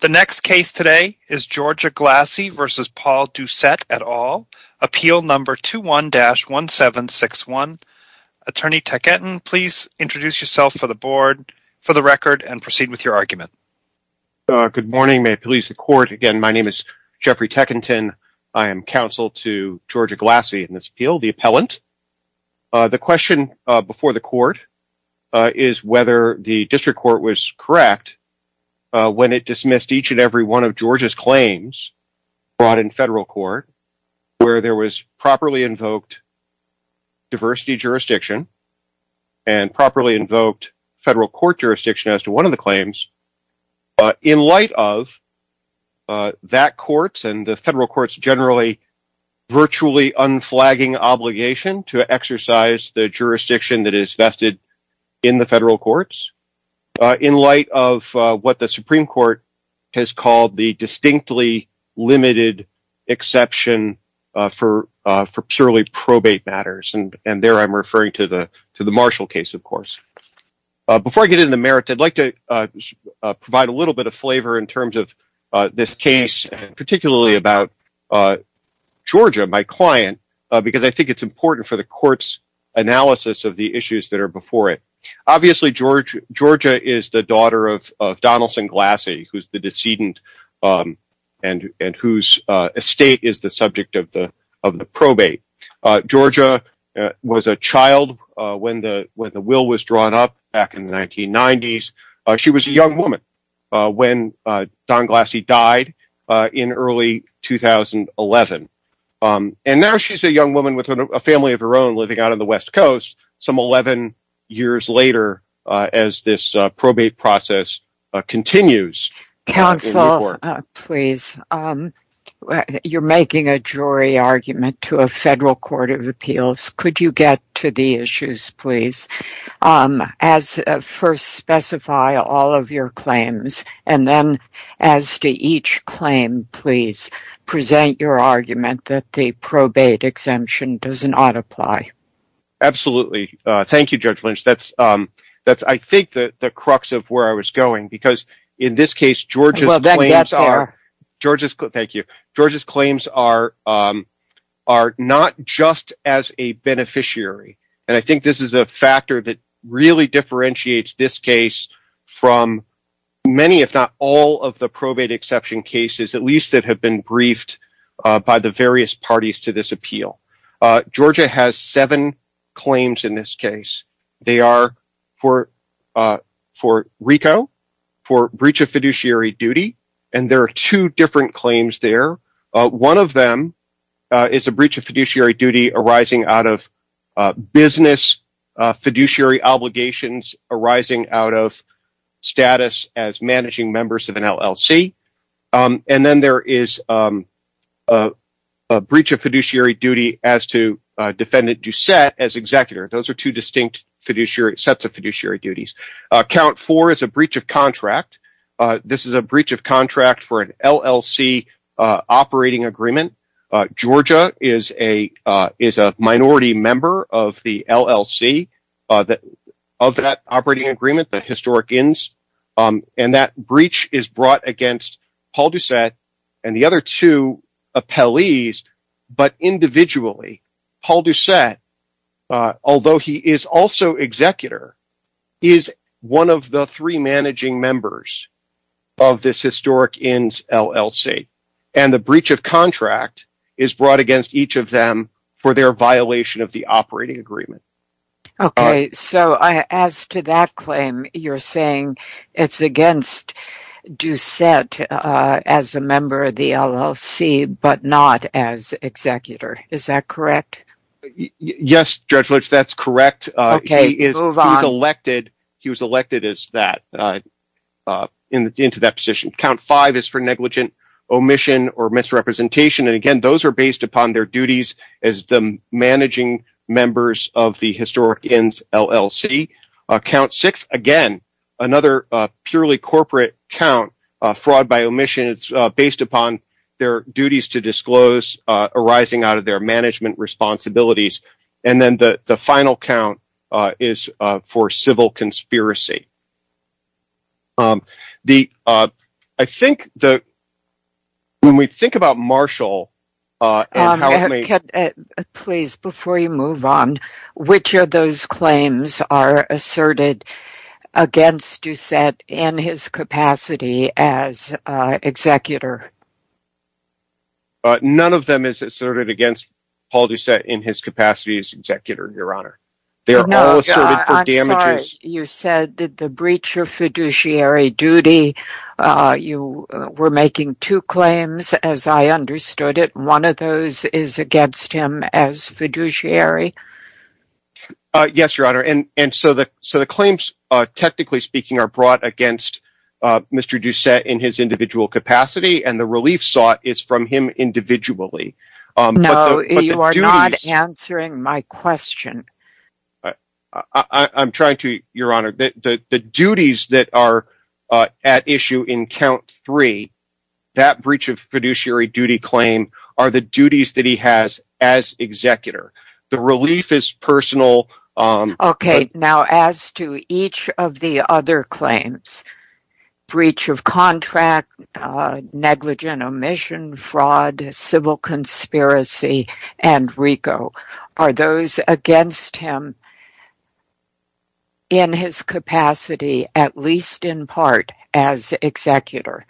The next case today is Georgia Glassie v. Paul Doucette et al., Appeal No. 21-1761. Attorney Tekenton, please introduce yourself for the board, for the record, and proceed with your argument. Good morning. May it please the Court, again, my name is Jeffrey Tekenton. I am counsel to Georgia Glassie in this appeal, the appellant. The question before the Court is whether the district court was correct when it dismissed each and every one of Georgia's claims brought in federal court, where there was properly invoked diversity jurisdiction and properly invoked federal court jurisdiction as to one of the claims. In light of that court's and the federal court's generally virtually unflagging obligation to exercise the jurisdiction that is vested in the federal courts, in light of what the Supreme Court has called the distinctly limited exception for purely probate matters, and there I'm referring to the Marshall case, of course. Before I get into the merits, I'd like to provide a little bit of flavor in terms of this case, particularly about Georgia, my client, because I think it's important for the Court's analysis of the issues that are before it. Obviously, Georgia is the daughter of Donaldson Glassie, who's the decedent and whose estate is the subject of the probate. Georgia was a child when the will was drawn up back in the 1990s. She was a young woman when Don Glassie died in early 2011. And now she's a young woman with a family of her own living out on the West Coast some 11 years later as this probate process continues. You're making a jury argument to a federal court of appeals. Could you get to the issues, please? First, specify all of your claims, and then, as to each claim, present your argument that the probate exemption does not apply. Absolutely. Thank you, Judge Lynch. I think that's the crux of where I was going, because in this case, Georgia's claims are not just as a beneficiary. I think this is a factor that really differentiates this case from many, if not all, of the probate exception cases, at least that have been briefed by the various parties to this appeal. Georgia has seven claims in this case. They are for RICO, for breach of fiduciary duty, and there are two different claims there. One of them is a breach of fiduciary duty arising out of business fiduciary obligations arising out of status as managing members of an LLC. Then there is a breach of fiduciary duty as to defendant Doucette as executor. Those are two distinct sets of fiduciary duties. Count four is a breach of contract. This is a breach of contract for an LLC operating agreement. Georgia is a minority member of the LLC of that operating agreement, the historic INS. That breach is brought against Paul Doucette and the other two appellees, but individually. Paul Doucette, although he is also executor, is one of the three managing members of this historic INS LLC. The breach of contract is brought against each of them for their violation of the operating agreement. As to that claim, you're saying it's against Doucette as a member of the LLC but not as executor. Is that correct? Yes, Judge Litch, that's correct. He was elected into that position. Count five is for negligent omission or misrepresentation. Again, those are based upon their duties as the managing members of the historic INS LLC. Count six, again, another purely corporate count, fraud by omission. It's based upon their duties to disclose arising out of their management responsibilities. Then the final count is for civil conspiracy. When we think about Marshall... Please, before you move on, which of those claims are asserted against Doucette in his capacity as executor? None of them is asserted against Paul Doucette in his capacity as executor, Your Honor. I'm sorry. You said the breach of fiduciary duty. You were making two claims as I understood it. One of those is against him as fiduciary. Yes, Your Honor. The claims, technically speaking, are brought against Mr. Doucette in his individual capacity. The relief sought is from him individually. No, you are not answering my question. I'm trying to, Your Honor. The duties that are at issue in count three, that breach of fiduciary duty claim, are the duties that he has as executor. The relief is personal. As to each of the other claims, breach of contract, negligent omission, fraud, civil conspiracy, and RICO, are those against him in his capacity, at least in part, as executor?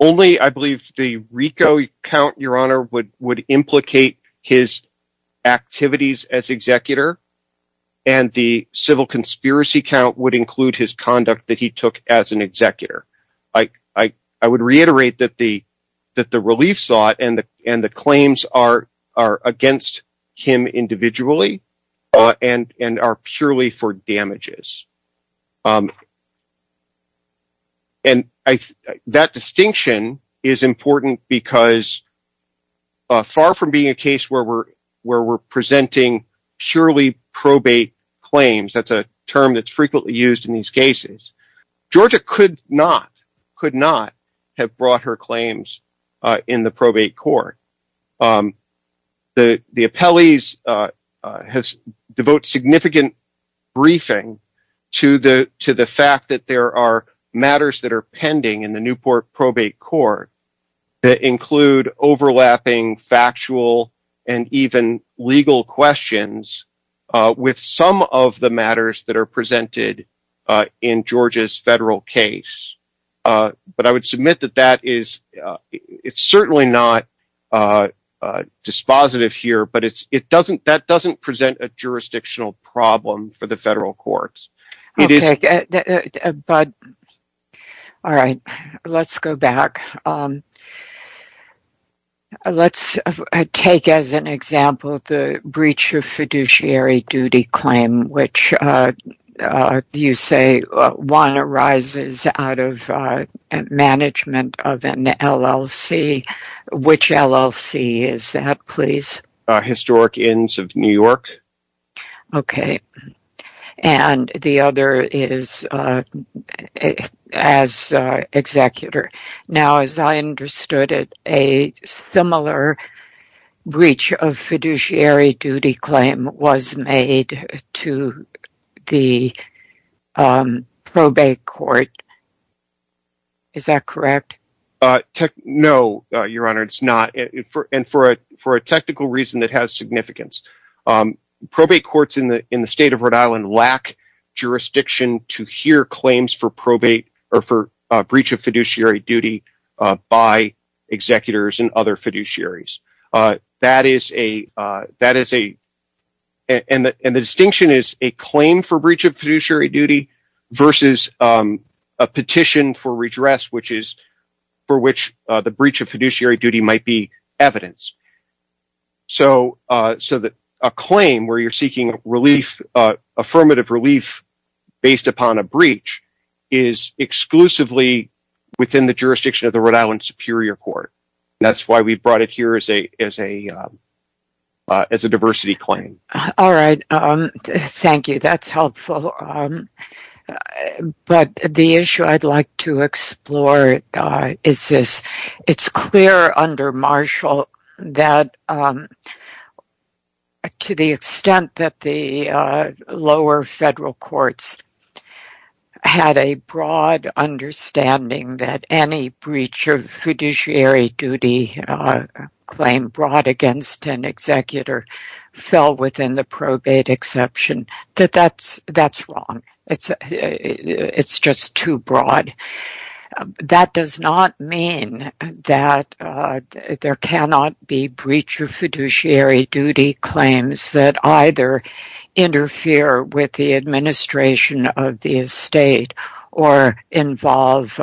Only, I believe, the RICO count, Your Honor, would implicate his activities as executor. And the civil conspiracy count would include his conduct that he took as an executor. I would reiterate that the relief sought and the claims are against him individually and are purely for damages. And that distinction is important because far from being a case where we're presenting purely probate claims, that's a term that's frequently used in these cases, Georgia could not, could not have brought her claims in the probate court. The appellees has devoted significant briefing to the fact that there are matters that are pending in the Newport probate court that include overlapping factual and even legal questions with some of the matters that are presented in Georgia's federal case. But I would submit that that is, it's certainly not dispositive here, but it doesn't, that doesn't present a jurisdictional problem for the federal courts. All right, let's go back. Let's take as an example the breach of fiduciary duty claim, which you say one arises out of management of an LLC. Which LLC is that, please? Historic Inns of New York. Okay. And the other is as executor. Now, as I understood it, a similar breach of fiduciary duty claim was made to the probate court. Is that correct? No, Your Honor, it's not. And for a technical reason that has significance, probate courts in the state of Rhode Island lack jurisdiction to hear claims for probate or for breach of fiduciary duty by executors and other fiduciaries. That is a, that is a, and the distinction is a claim for breach of fiduciary duty versus a petition for redress, which is for which the breach of fiduciary duty might be evidence. So, so that a claim where you're seeking relief, affirmative relief based upon a breach is exclusively within the jurisdiction of the Rhode Island Superior Court. That's why we brought it here as a, as a, as a diversity claim. All right. Thank you. That's helpful. But the issue I'd like to explore is this. that to the extent that the lower federal courts had a broad understanding that any breach of fiduciary duty claim brought against an executor fell within the probate exception, that that's, that's wrong. It's, it's just too broad. That does not mean that there cannot be breach of fiduciary duty claims that either interfere with the administration of the estate or involve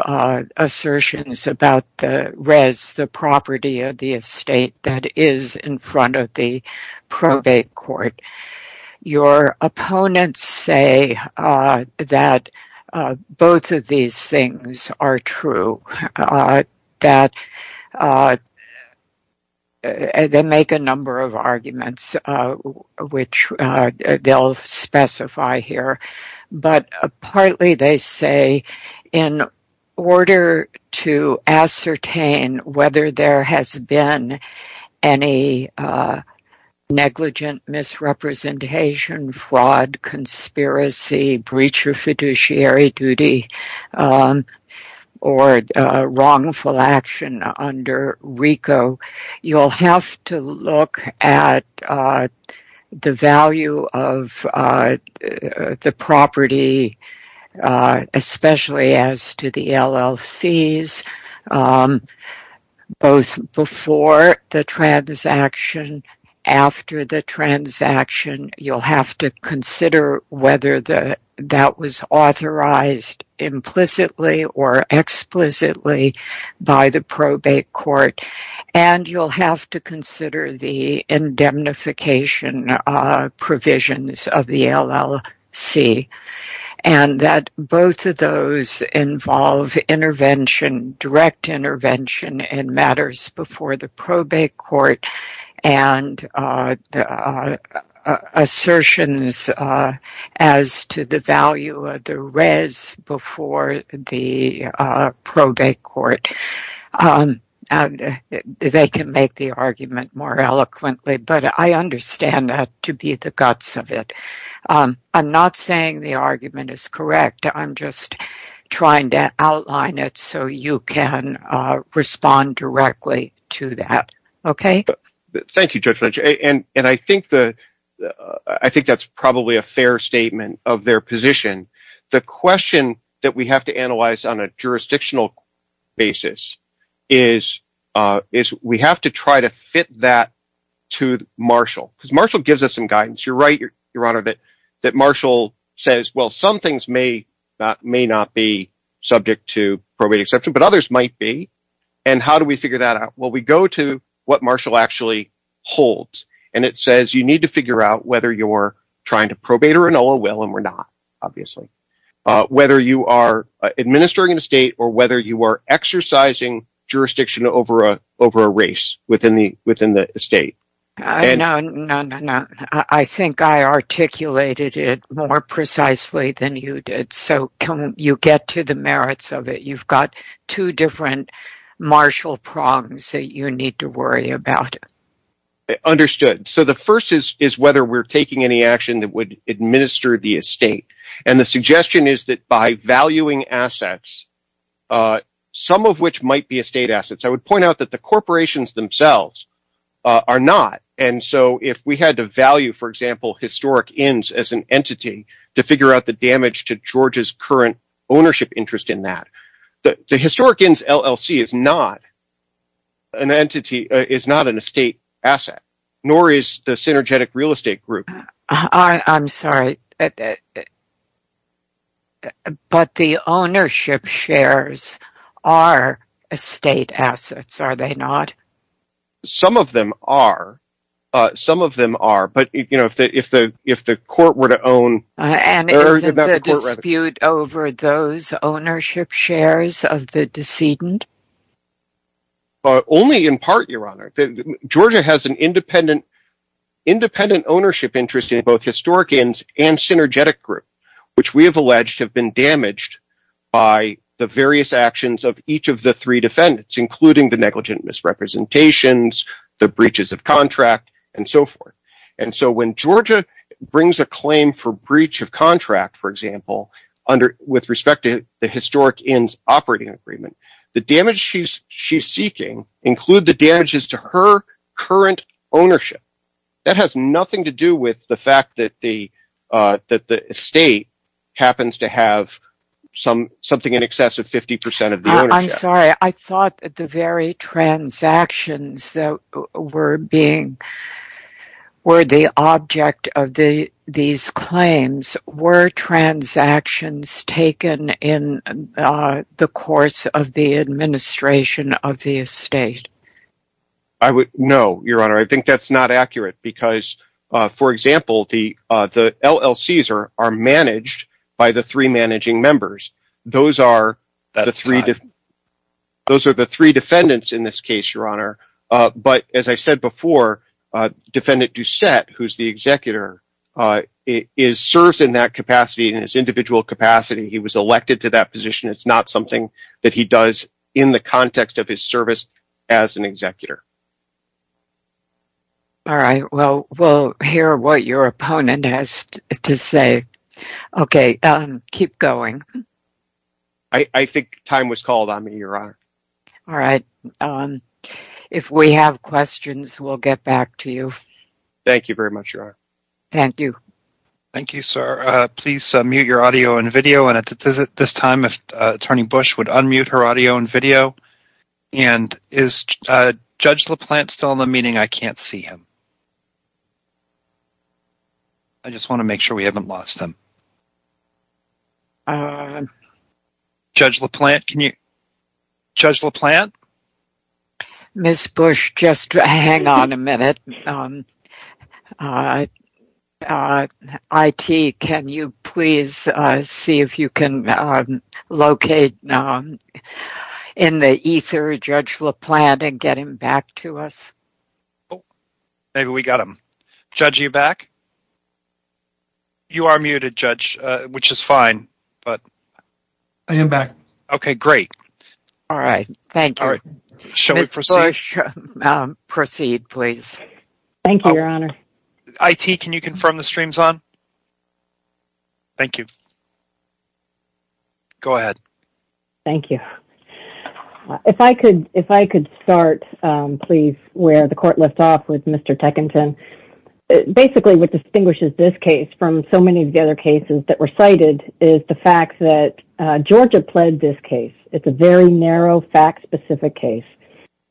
assertions about the res, the property of the estate that is in front of the probate court. Your opponents say that both of these things are true, that they make a number of arguments, which they'll specify here. But partly they say, in order to ascertain whether there has been any negligent misrepresentation, fraud, conspiracy, breach of fiduciary duty, or wrongful action under RICO, you'll have to look at the value of the property. Especially as to the LLCs, both before the transaction, after the transaction, you'll have to consider whether that was authorized implicitly or explicitly by the probate court, and you'll have to consider the indemnification provisions of the LLC. And that both of those involve intervention, direct intervention in matters before the probate court, and assertions as to the value of the res before the probate court. They can make the argument more eloquently, but I understand that to be the guts of it. I'm not saying the argument is correct. I'm just trying to outline it so you can respond directly to that. Thank you, Judge Fletcher. And I think that's probably a fair statement of their position. The question that we have to analyze on a jurisdictional basis is we have to try to fit that to Marshall. Because Marshall gives us some guidance. You're right, Your Honor, that Marshall says, well, some things may not be subject to probate exception, but others might be. And how do we figure that out? Well, we go to what Marshall actually holds. And it says you need to figure out whether you're trying to probate or annul a will, and we're not, obviously. Whether you are administering an estate or whether you are exercising jurisdiction over a race within the estate. No, no, no. I think I articulated it more precisely than you did. So can you get to the merits of it? You've got two different Marshall prongs that you need to worry about. Understood. So the first is whether we're taking any action that would administer the estate. And the suggestion is that by valuing assets, some of which might be estate assets, I would point out that the corporations themselves are not. And so if we had to value, for example, historic ends as an entity to figure out the damage to Georgia's current ownership interest in that, the historic ends LLC is not an entity, is not an estate asset, nor is the synergetic real estate group. I'm sorry, but the ownership shares are estate assets, are they not? Some of them are. Some of them are. But if the court were to own... And isn't the dispute over those ownership shares of the decedent? Only in part, Your Honor. Georgia has an independent ownership interest in both historic ends and synergetic group, which we have alleged have been damaged by the various actions of each of the three defendants, including the negligent misrepresentations, the breaches of contract and so forth. And so when Georgia brings a claim for breach of contract, for example, with respect to the historic ends operating agreement, the damage she's seeking include the damages to her current ownership. That has nothing to do with the fact that the estate happens to have something in excess of 50% of the ownership. I'm sorry, I thought that the very transactions that were the object of these claims were transactions taken in the course of the administration of the estate. No, Your Honor, I think that's not accurate because, for example, the LLCs are managed by the three managing members. Those are the three defendants in this case, Your Honor. But as I said before, Defendant Doucette, who's the executor, serves in that capacity in his individual capacity. He was elected to that position. It's not something that he does in the context of his service as an executor. All right, well, we'll hear what your opponent has to say. Okay, keep going. I think time was called on me, Your Honor. All right. If we have questions, we'll get back to you. Thank you very much, Your Honor. Thank you. Thank you, sir. Please mute your audio and video. And at this time, Attorney Bush would unmute her audio and video. And is Judge LaPlante still in the meeting? I can't see him. I just want to make sure we haven't lost him. Judge LaPlante, can you... Judge LaPlante? Ms. Bush, just hang on a minute. I.T., can you please see if you can locate in the ether Judge LaPlante and get him back to us? Maybe we got him. Judge, are you back? You are muted, Judge, which is fine. I am back. Okay, great. All right. Thank you. All right. Shall we proceed? Ms. Bush, proceed, please. Thank you, Your Honor. I.T., can you confirm the stream's on? Thank you. Go ahead. Thank you. If I could start, please, where the court left off with Mr. Teckinton. Basically, what distinguishes this case from so many of the other cases that were cited is the fact that Georgia pled this case. It's a very narrow, fact-specific case.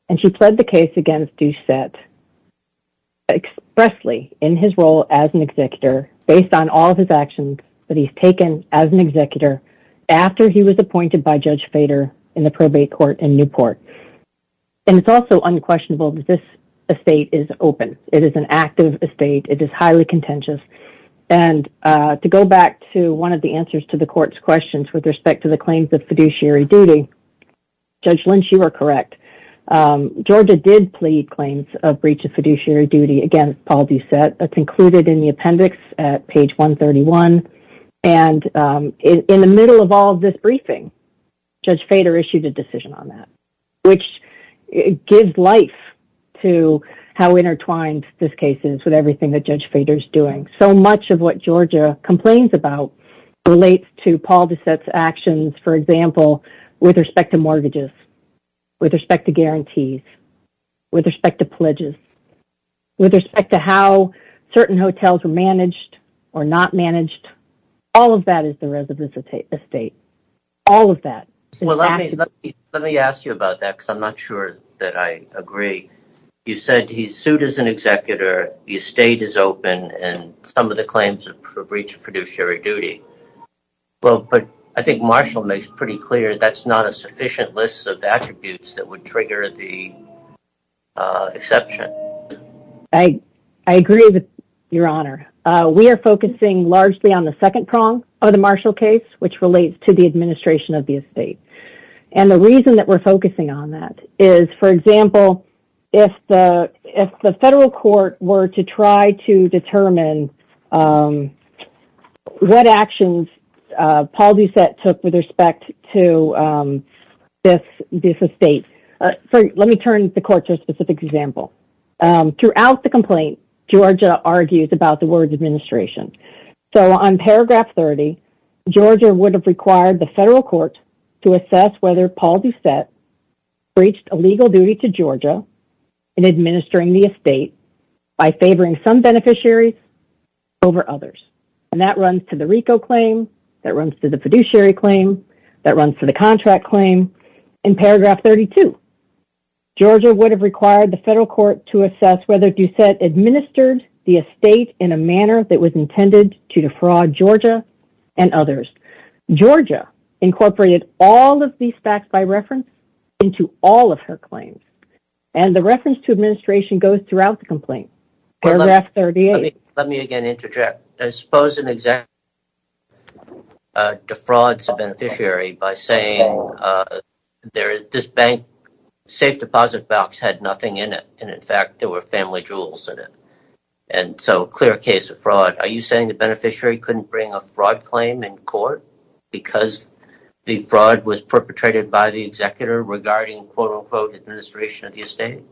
And she pled the case against Doucette expressly in his role as an executor based on all of his actions that he's taken as an executor after he was appointed by Judge Fader in the probate court in Newport. And it's also unquestionable that this estate is open. It is an active estate. It is highly contentious. And to go back to one of the answers to the court's questions with respect to the claims of fiduciary duty, Judge Lynch, you are correct. Georgia did plead claims of breach of fiduciary duty against Paul Doucette. That's included in the appendix at page 131. And in the middle of all this briefing, Judge Fader issued a decision on that, which gives life to how intertwined this case is with everything that Judge Fader's doing. So much of what Georgia complains about relates to Paul Doucette's actions, for example, with respect to mortgages, with respect to guarantees, with respect to pledges, with respect to how certain hotels are managed or not managed. All of that is the residence estate. All of that. Let me ask you about that because I'm not sure that I agree. You said he's sued as an executor. The estate is open and some of the claims of breach of fiduciary duty. Well, but I think Marshall makes pretty clear that's not a sufficient list of attributes that would trigger the exception. I agree with your honor. We are focusing largely on the second prong of the Marshall case, which relates to the administration of the estate. And the reason that we're focusing on that is, for example, if the if the federal court were to try to determine what actions Paul Doucette took with respect to this estate. Let me turn the court to a specific example. Throughout the complaint, Georgia argues about the words administration. So on paragraph 30, Georgia would have required the federal court to assess whether Paul Doucette breached a legal duty to Georgia in administering the estate by favoring some beneficiaries over others. And that runs to the RICO claim that runs to the fiduciary claim that runs for the contract claim. In paragraph 32, Georgia would have required the federal court to assess whether Doucette administered the estate in a manner that was intended to defraud Georgia and others. Georgia incorporated all of these facts by reference into all of her claims. And the reference to administration goes throughout the complaint. Paragraph 38. Let me again interject. I suppose an executive defrauds a beneficiary by saying there is this bank safe deposit box had nothing in it. And in fact, there were family jewels in it. And so clear case of fraud. Are you saying the beneficiary couldn't bring a fraud claim in court because the fraud was perpetrated by the executor regarding quote unquote administration of the estate?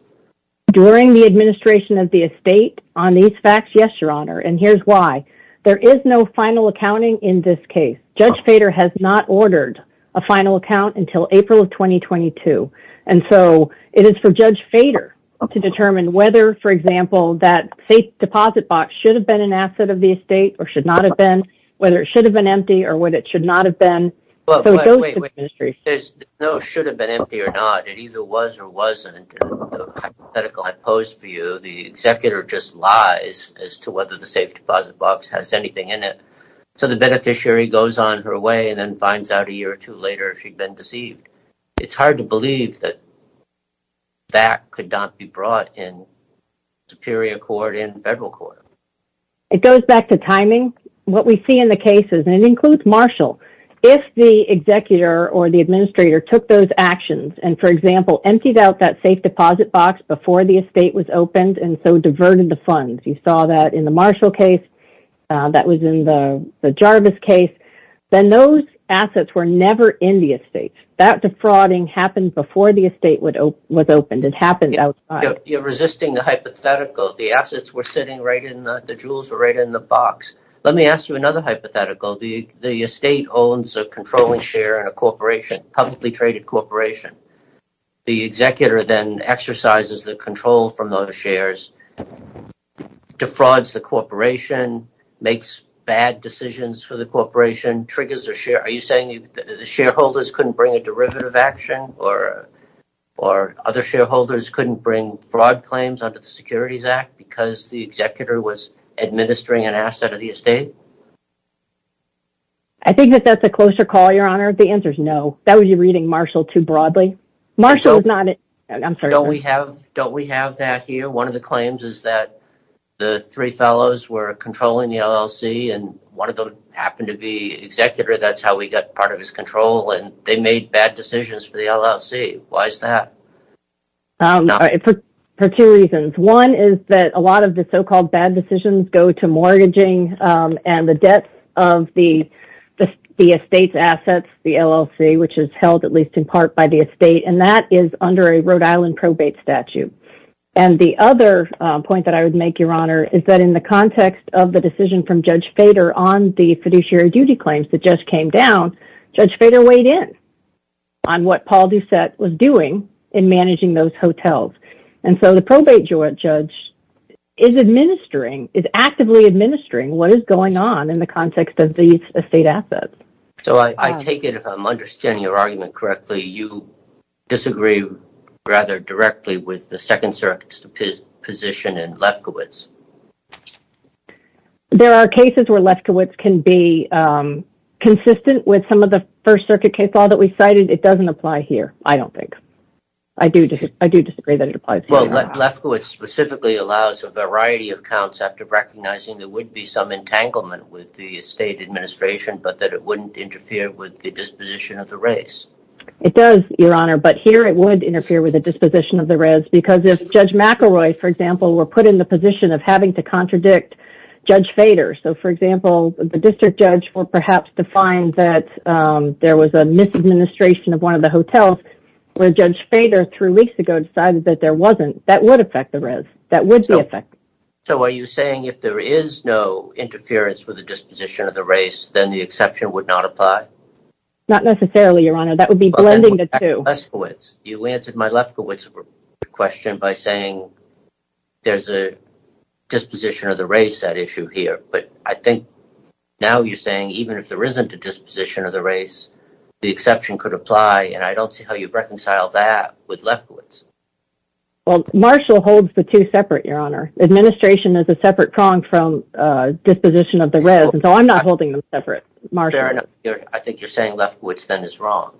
During the administration of the estate on these facts? Yes, Your Honor. And here's why. There is no final accounting in this case. Judge Fader has not ordered a final account until April of 2022. And so it is for Judge Fader to determine whether, for example, that safe deposit box should have been an asset of the estate or should not have been, whether it should have been empty or what it should not have been. There's no should have been empty or not. It either was or wasn't. The hypothetical I posed for you, the executor just lies as to whether the safe deposit box has anything in it. So the beneficiary goes on her way and then finds out a year or two later she'd been deceived. It's hard to believe that. That could not be brought in superior court in federal court. It goes back to timing. What we see in the case is it includes Marshall. If the executor or the administrator took those actions and, for example, emptied out that safe deposit box before the estate was opened and so diverted the funds, you saw that in the Marshall case. That was in the Jarvis case. Then those assets were never in the estate. That defrauding happened before the estate was opened. It happened outside. You're resisting the hypothetical. The assets were sitting right in the – the jewels were right in the box. Let me ask you another hypothetical. The estate owns a controlling share in a corporation, publicly traded corporation. The executor then exercises the control from those shares, defrauds the corporation, makes bad decisions for the corporation, triggers a share. Are you saying the shareholders couldn't bring a derivative action or other shareholders couldn't bring fraud claims under the Securities Act because the executor was administering an asset of the estate? I think that that's a closer call, Your Honor. The answer is no. That would be reading Marshall too broadly. Marshall is not – I'm sorry. Don't we have – don't we have that here? One of the claims is that the three fellows were controlling the LLC, and one of them happened to be executor. That's how we got part of his control, and they made bad decisions for the LLC. Why is that? For two reasons. One is that a lot of the so-called bad decisions go to mortgaging and the debts of the estate's assets, the LLC, which is held at least in part by the estate, and that is under a Rhode Island probate statute. And the other point that I would make, Your Honor, is that in the context of the decision from Judge Fader on the fiduciary duty claims that just came down, Judge Fader weighed in on what Paul Doucette was doing in managing those hotels. And so the probate judge is administering – is actively administering what is going on in the context of these estate assets. So I take it, if I'm understanding your argument correctly, you disagree rather directly with the Second Circuit's position in Lefkowitz. There are cases where Lefkowitz can be consistent with some of the First Circuit case law that we cited. It doesn't apply here, I don't think. I do disagree that it applies here. Well, Lefkowitz specifically allows a variety of counts after recognizing there would be some entanglement with the estate administration, but that it wouldn't interfere with the disposition of the res. It does, Your Honor, but here it would interfere with the disposition of the res because if Judge McElroy, for example, were put in the position of having to contradict Judge Fader – so, for example, the district judge were perhaps defined that there was a misadministration of one of the hotels where Judge Fader, three weeks ago, decided that there wasn't – that would affect the res. That would be affected. So are you saying if there is no interference with the disposition of the res, then the exception would not apply? Not necessarily, Your Honor. That would be blending the two. You answered my Lefkowitz question by saying there's a disposition of the res at issue here, but I think now you're saying even if there isn't a disposition of the res, the exception could apply, and I don't see how you reconcile that with Lefkowitz. Well, Marshall holds the two separate, Your Honor. Administration is a separate prong from disposition of the res, so I'm not holding them separate, Marshall. Fair enough. I think you're saying Lefkowitz then is wrong.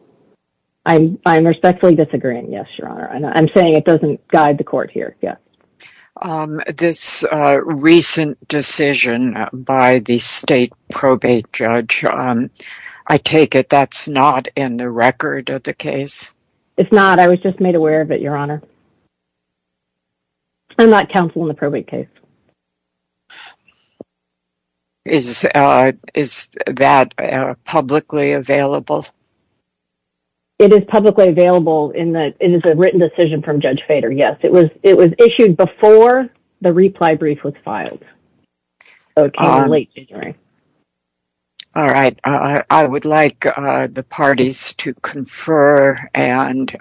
I'm respectfully disagreeing, yes, Your Honor. I'm saying it doesn't guide the court here, yes. This recent decision by the state probate judge, I take it that's not in the record of the case? It's not. I was just made aware of it, Your Honor. I'm not counsel in the probate case. Is that publicly available? It is publicly available. It is a written decision from Judge Fader, yes. It was issued before the reply brief was filed. It came in late January. All right. I would like the parties to confer and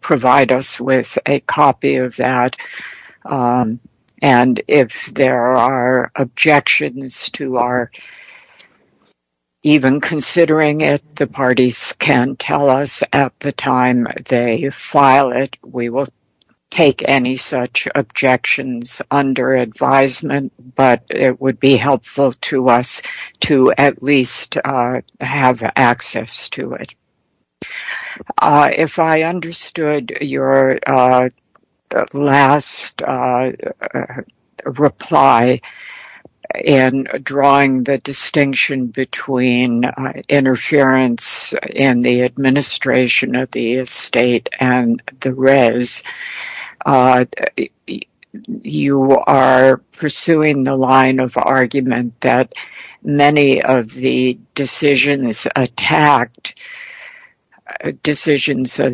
provide us with a copy of that, and if there are objections to our even considering it, the parties can tell us at the time they file it. We will take any such objections under advisement, but it would be helpful to us to at least have access to it. If I understood your last reply in drawing the distinction between interference in the administration of the estate and the res, you are pursuing the line of argument that many of the decisions of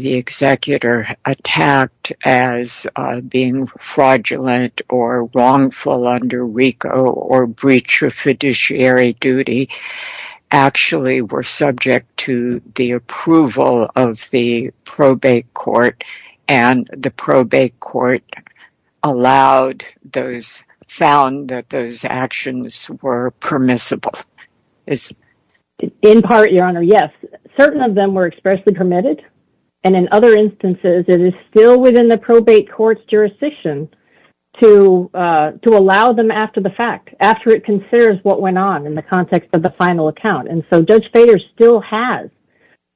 the executor attacked as being fraudulent or wrongful under RICO or breach of fiduciary duty actually were subject to the approval of the probate court, and the probate court found that those actions were permissible. In part, Your Honor, yes. Certain of them were expressly permitted, and in other instances, it is still within the probate court's jurisdiction to allow them after the fact, after it considers what went on in the context of the final account. Judge Bader still has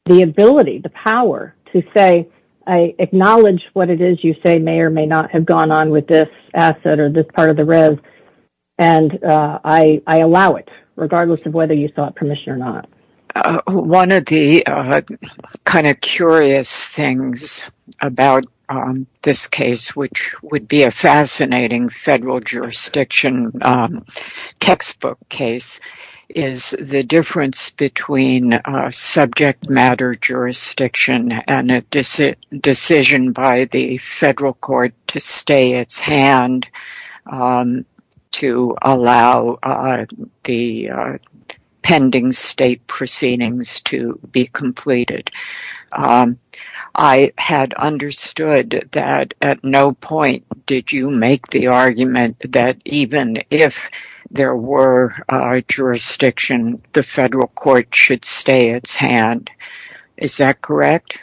the ability, the power to say, I acknowledge what it is you say may or may not have gone on with this asset or this part of the res, and I allow it, regardless of whether you sought permission or not. One of the kind of curious things about this case, which would be a fascinating federal jurisdiction textbook case, is the difference between subject matter jurisdiction and a decision by the federal court to stay its hand to allow the pending state proceedings to be completed. I had understood that at no point did you make the argument that even if there were a jurisdiction, the federal court should stay its hand. Is that correct?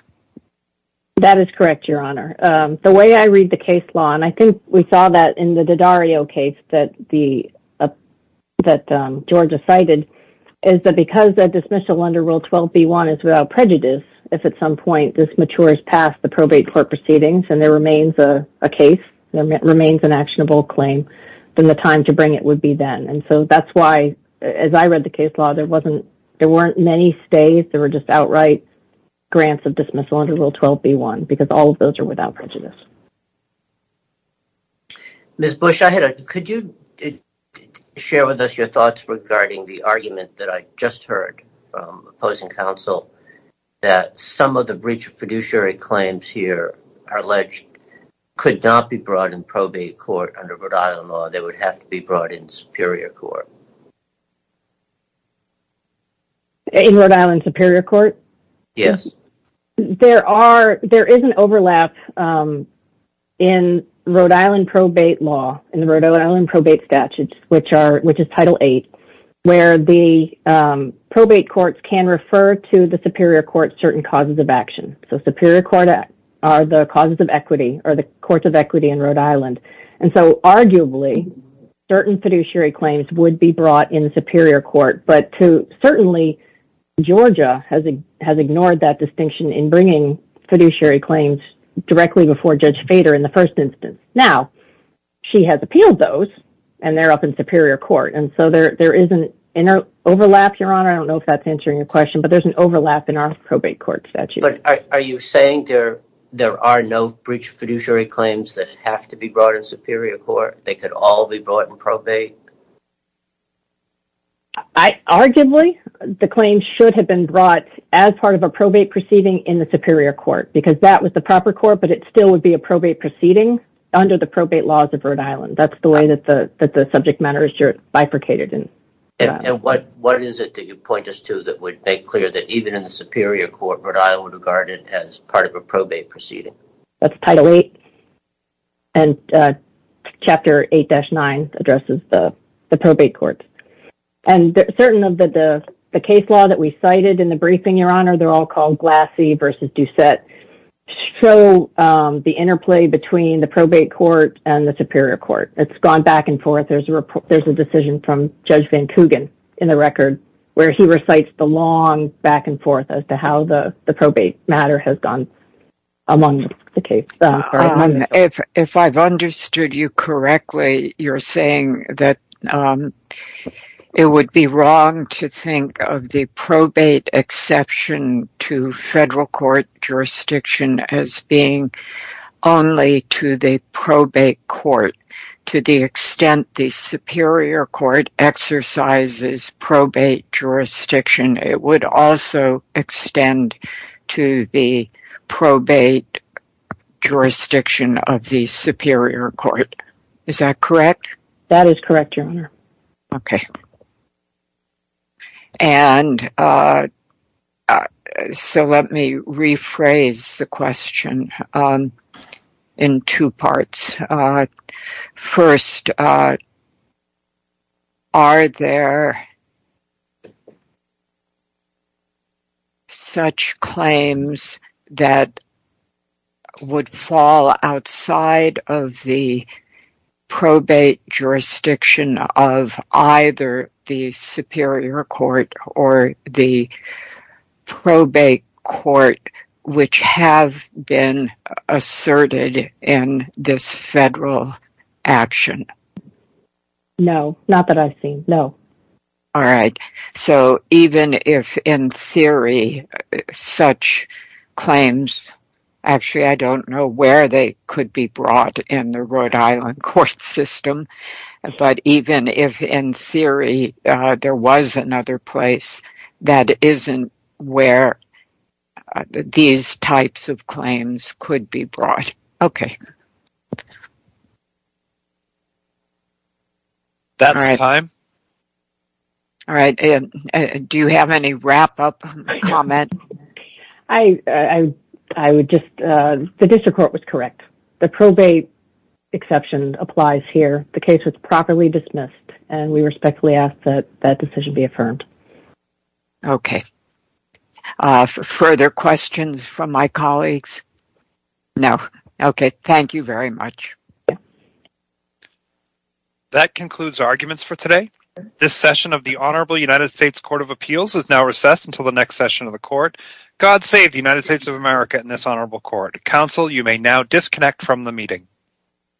That is correct, Your Honor. The way I read the case law, and I think we saw that in the Daddario case that Georgia cited, is that because a dismissal under Rule 12b-1 is without prejudice, if at some point this matures past the probate court proceedings and there remains a case, remains an actionable claim, then the time to bring it would be then. And so that's why, as I read the case law, there weren't many stays, there were just outright grants of dismissal under Rule 12b-1, because all of those are without prejudice. Ms. Bush, could you share with us your thoughts regarding the argument that I just heard from opposing counsel, that some of the breach of fiduciary claims here are alleged could not be brought in probate court under Rhode Island law, they would have to be brought in superior court? In Rhode Island superior court? Yes. There is an overlap in Rhode Island probate law, in the Rhode Island probate statute, which is Title VIII, where the probate courts can refer to the superior court certain causes of action. So superior court are the causes of equity, or the courts of equity in Rhode Island. And so arguably, certain fiduciary claims would be brought in superior court, but certainly Georgia has ignored that distinction in bringing fiduciary claims directly before Judge Fader in the first instance. Now, she has appealed those, and they're up in superior court. And so there is an overlap, Your Honor, I don't know if that's answering your question, but there's an overlap in our probate court statute. But are you saying there are no breach of fiduciary claims that have to be brought in superior court? They could all be brought in probate? Arguably, the claims should have been brought as part of a probate proceeding in the superior court, because that was the proper court, but it still would be a probate proceeding under the probate laws of Rhode Island. That's the way that the subject matter is bifurcated. And what is it that you point us to that would make clear that even in the superior court, Rhode Island regarded it as part of a probate proceeding? That's Title VIII, and Chapter 8-9 addresses the probate courts. And certain of the case law that we cited in the briefing, Your Honor, they're all called Glassie v. Doucette, show the interplay between the probate court and the superior court. It's gone back and forth. There's a decision from Judge Van Coogan in the record where he recites the long back and forth as to how the probate matter has gone among the case. If I've understood you correctly, you're saying that it would be wrong to think of the probate exception to federal court jurisdiction as being only to the probate court to the extent the superior court exercises probate jurisdiction. It would also extend to the probate jurisdiction of the superior court. Is that correct? That is correct, Your Honor. OK. And so let me rephrase the question in two parts. First, are there such claims that would fall outside of the probate jurisdiction of either the superior court or the probate court, which have been asserted in this federal action? No, not that I've seen. No. All right. So even if in theory such claims, actually, I don't know where they could be brought in the Rhode Island court system. But even if in theory there was another place, that isn't where these types of claims could be brought. OK. That's time. All right. Do you have any wrap up comment? I would just the district court was correct. The probate exception applies here. The case was properly dismissed and we respectfully ask that that decision be affirmed. OK. Further questions from my colleagues? No. OK. Thank you very much. That concludes arguments for today. This session of the Honorable United States Court of Appeals is now recessed until the next session of the court. God save the United States of America and this honorable court. Counsel, you may now disconnect from the meeting.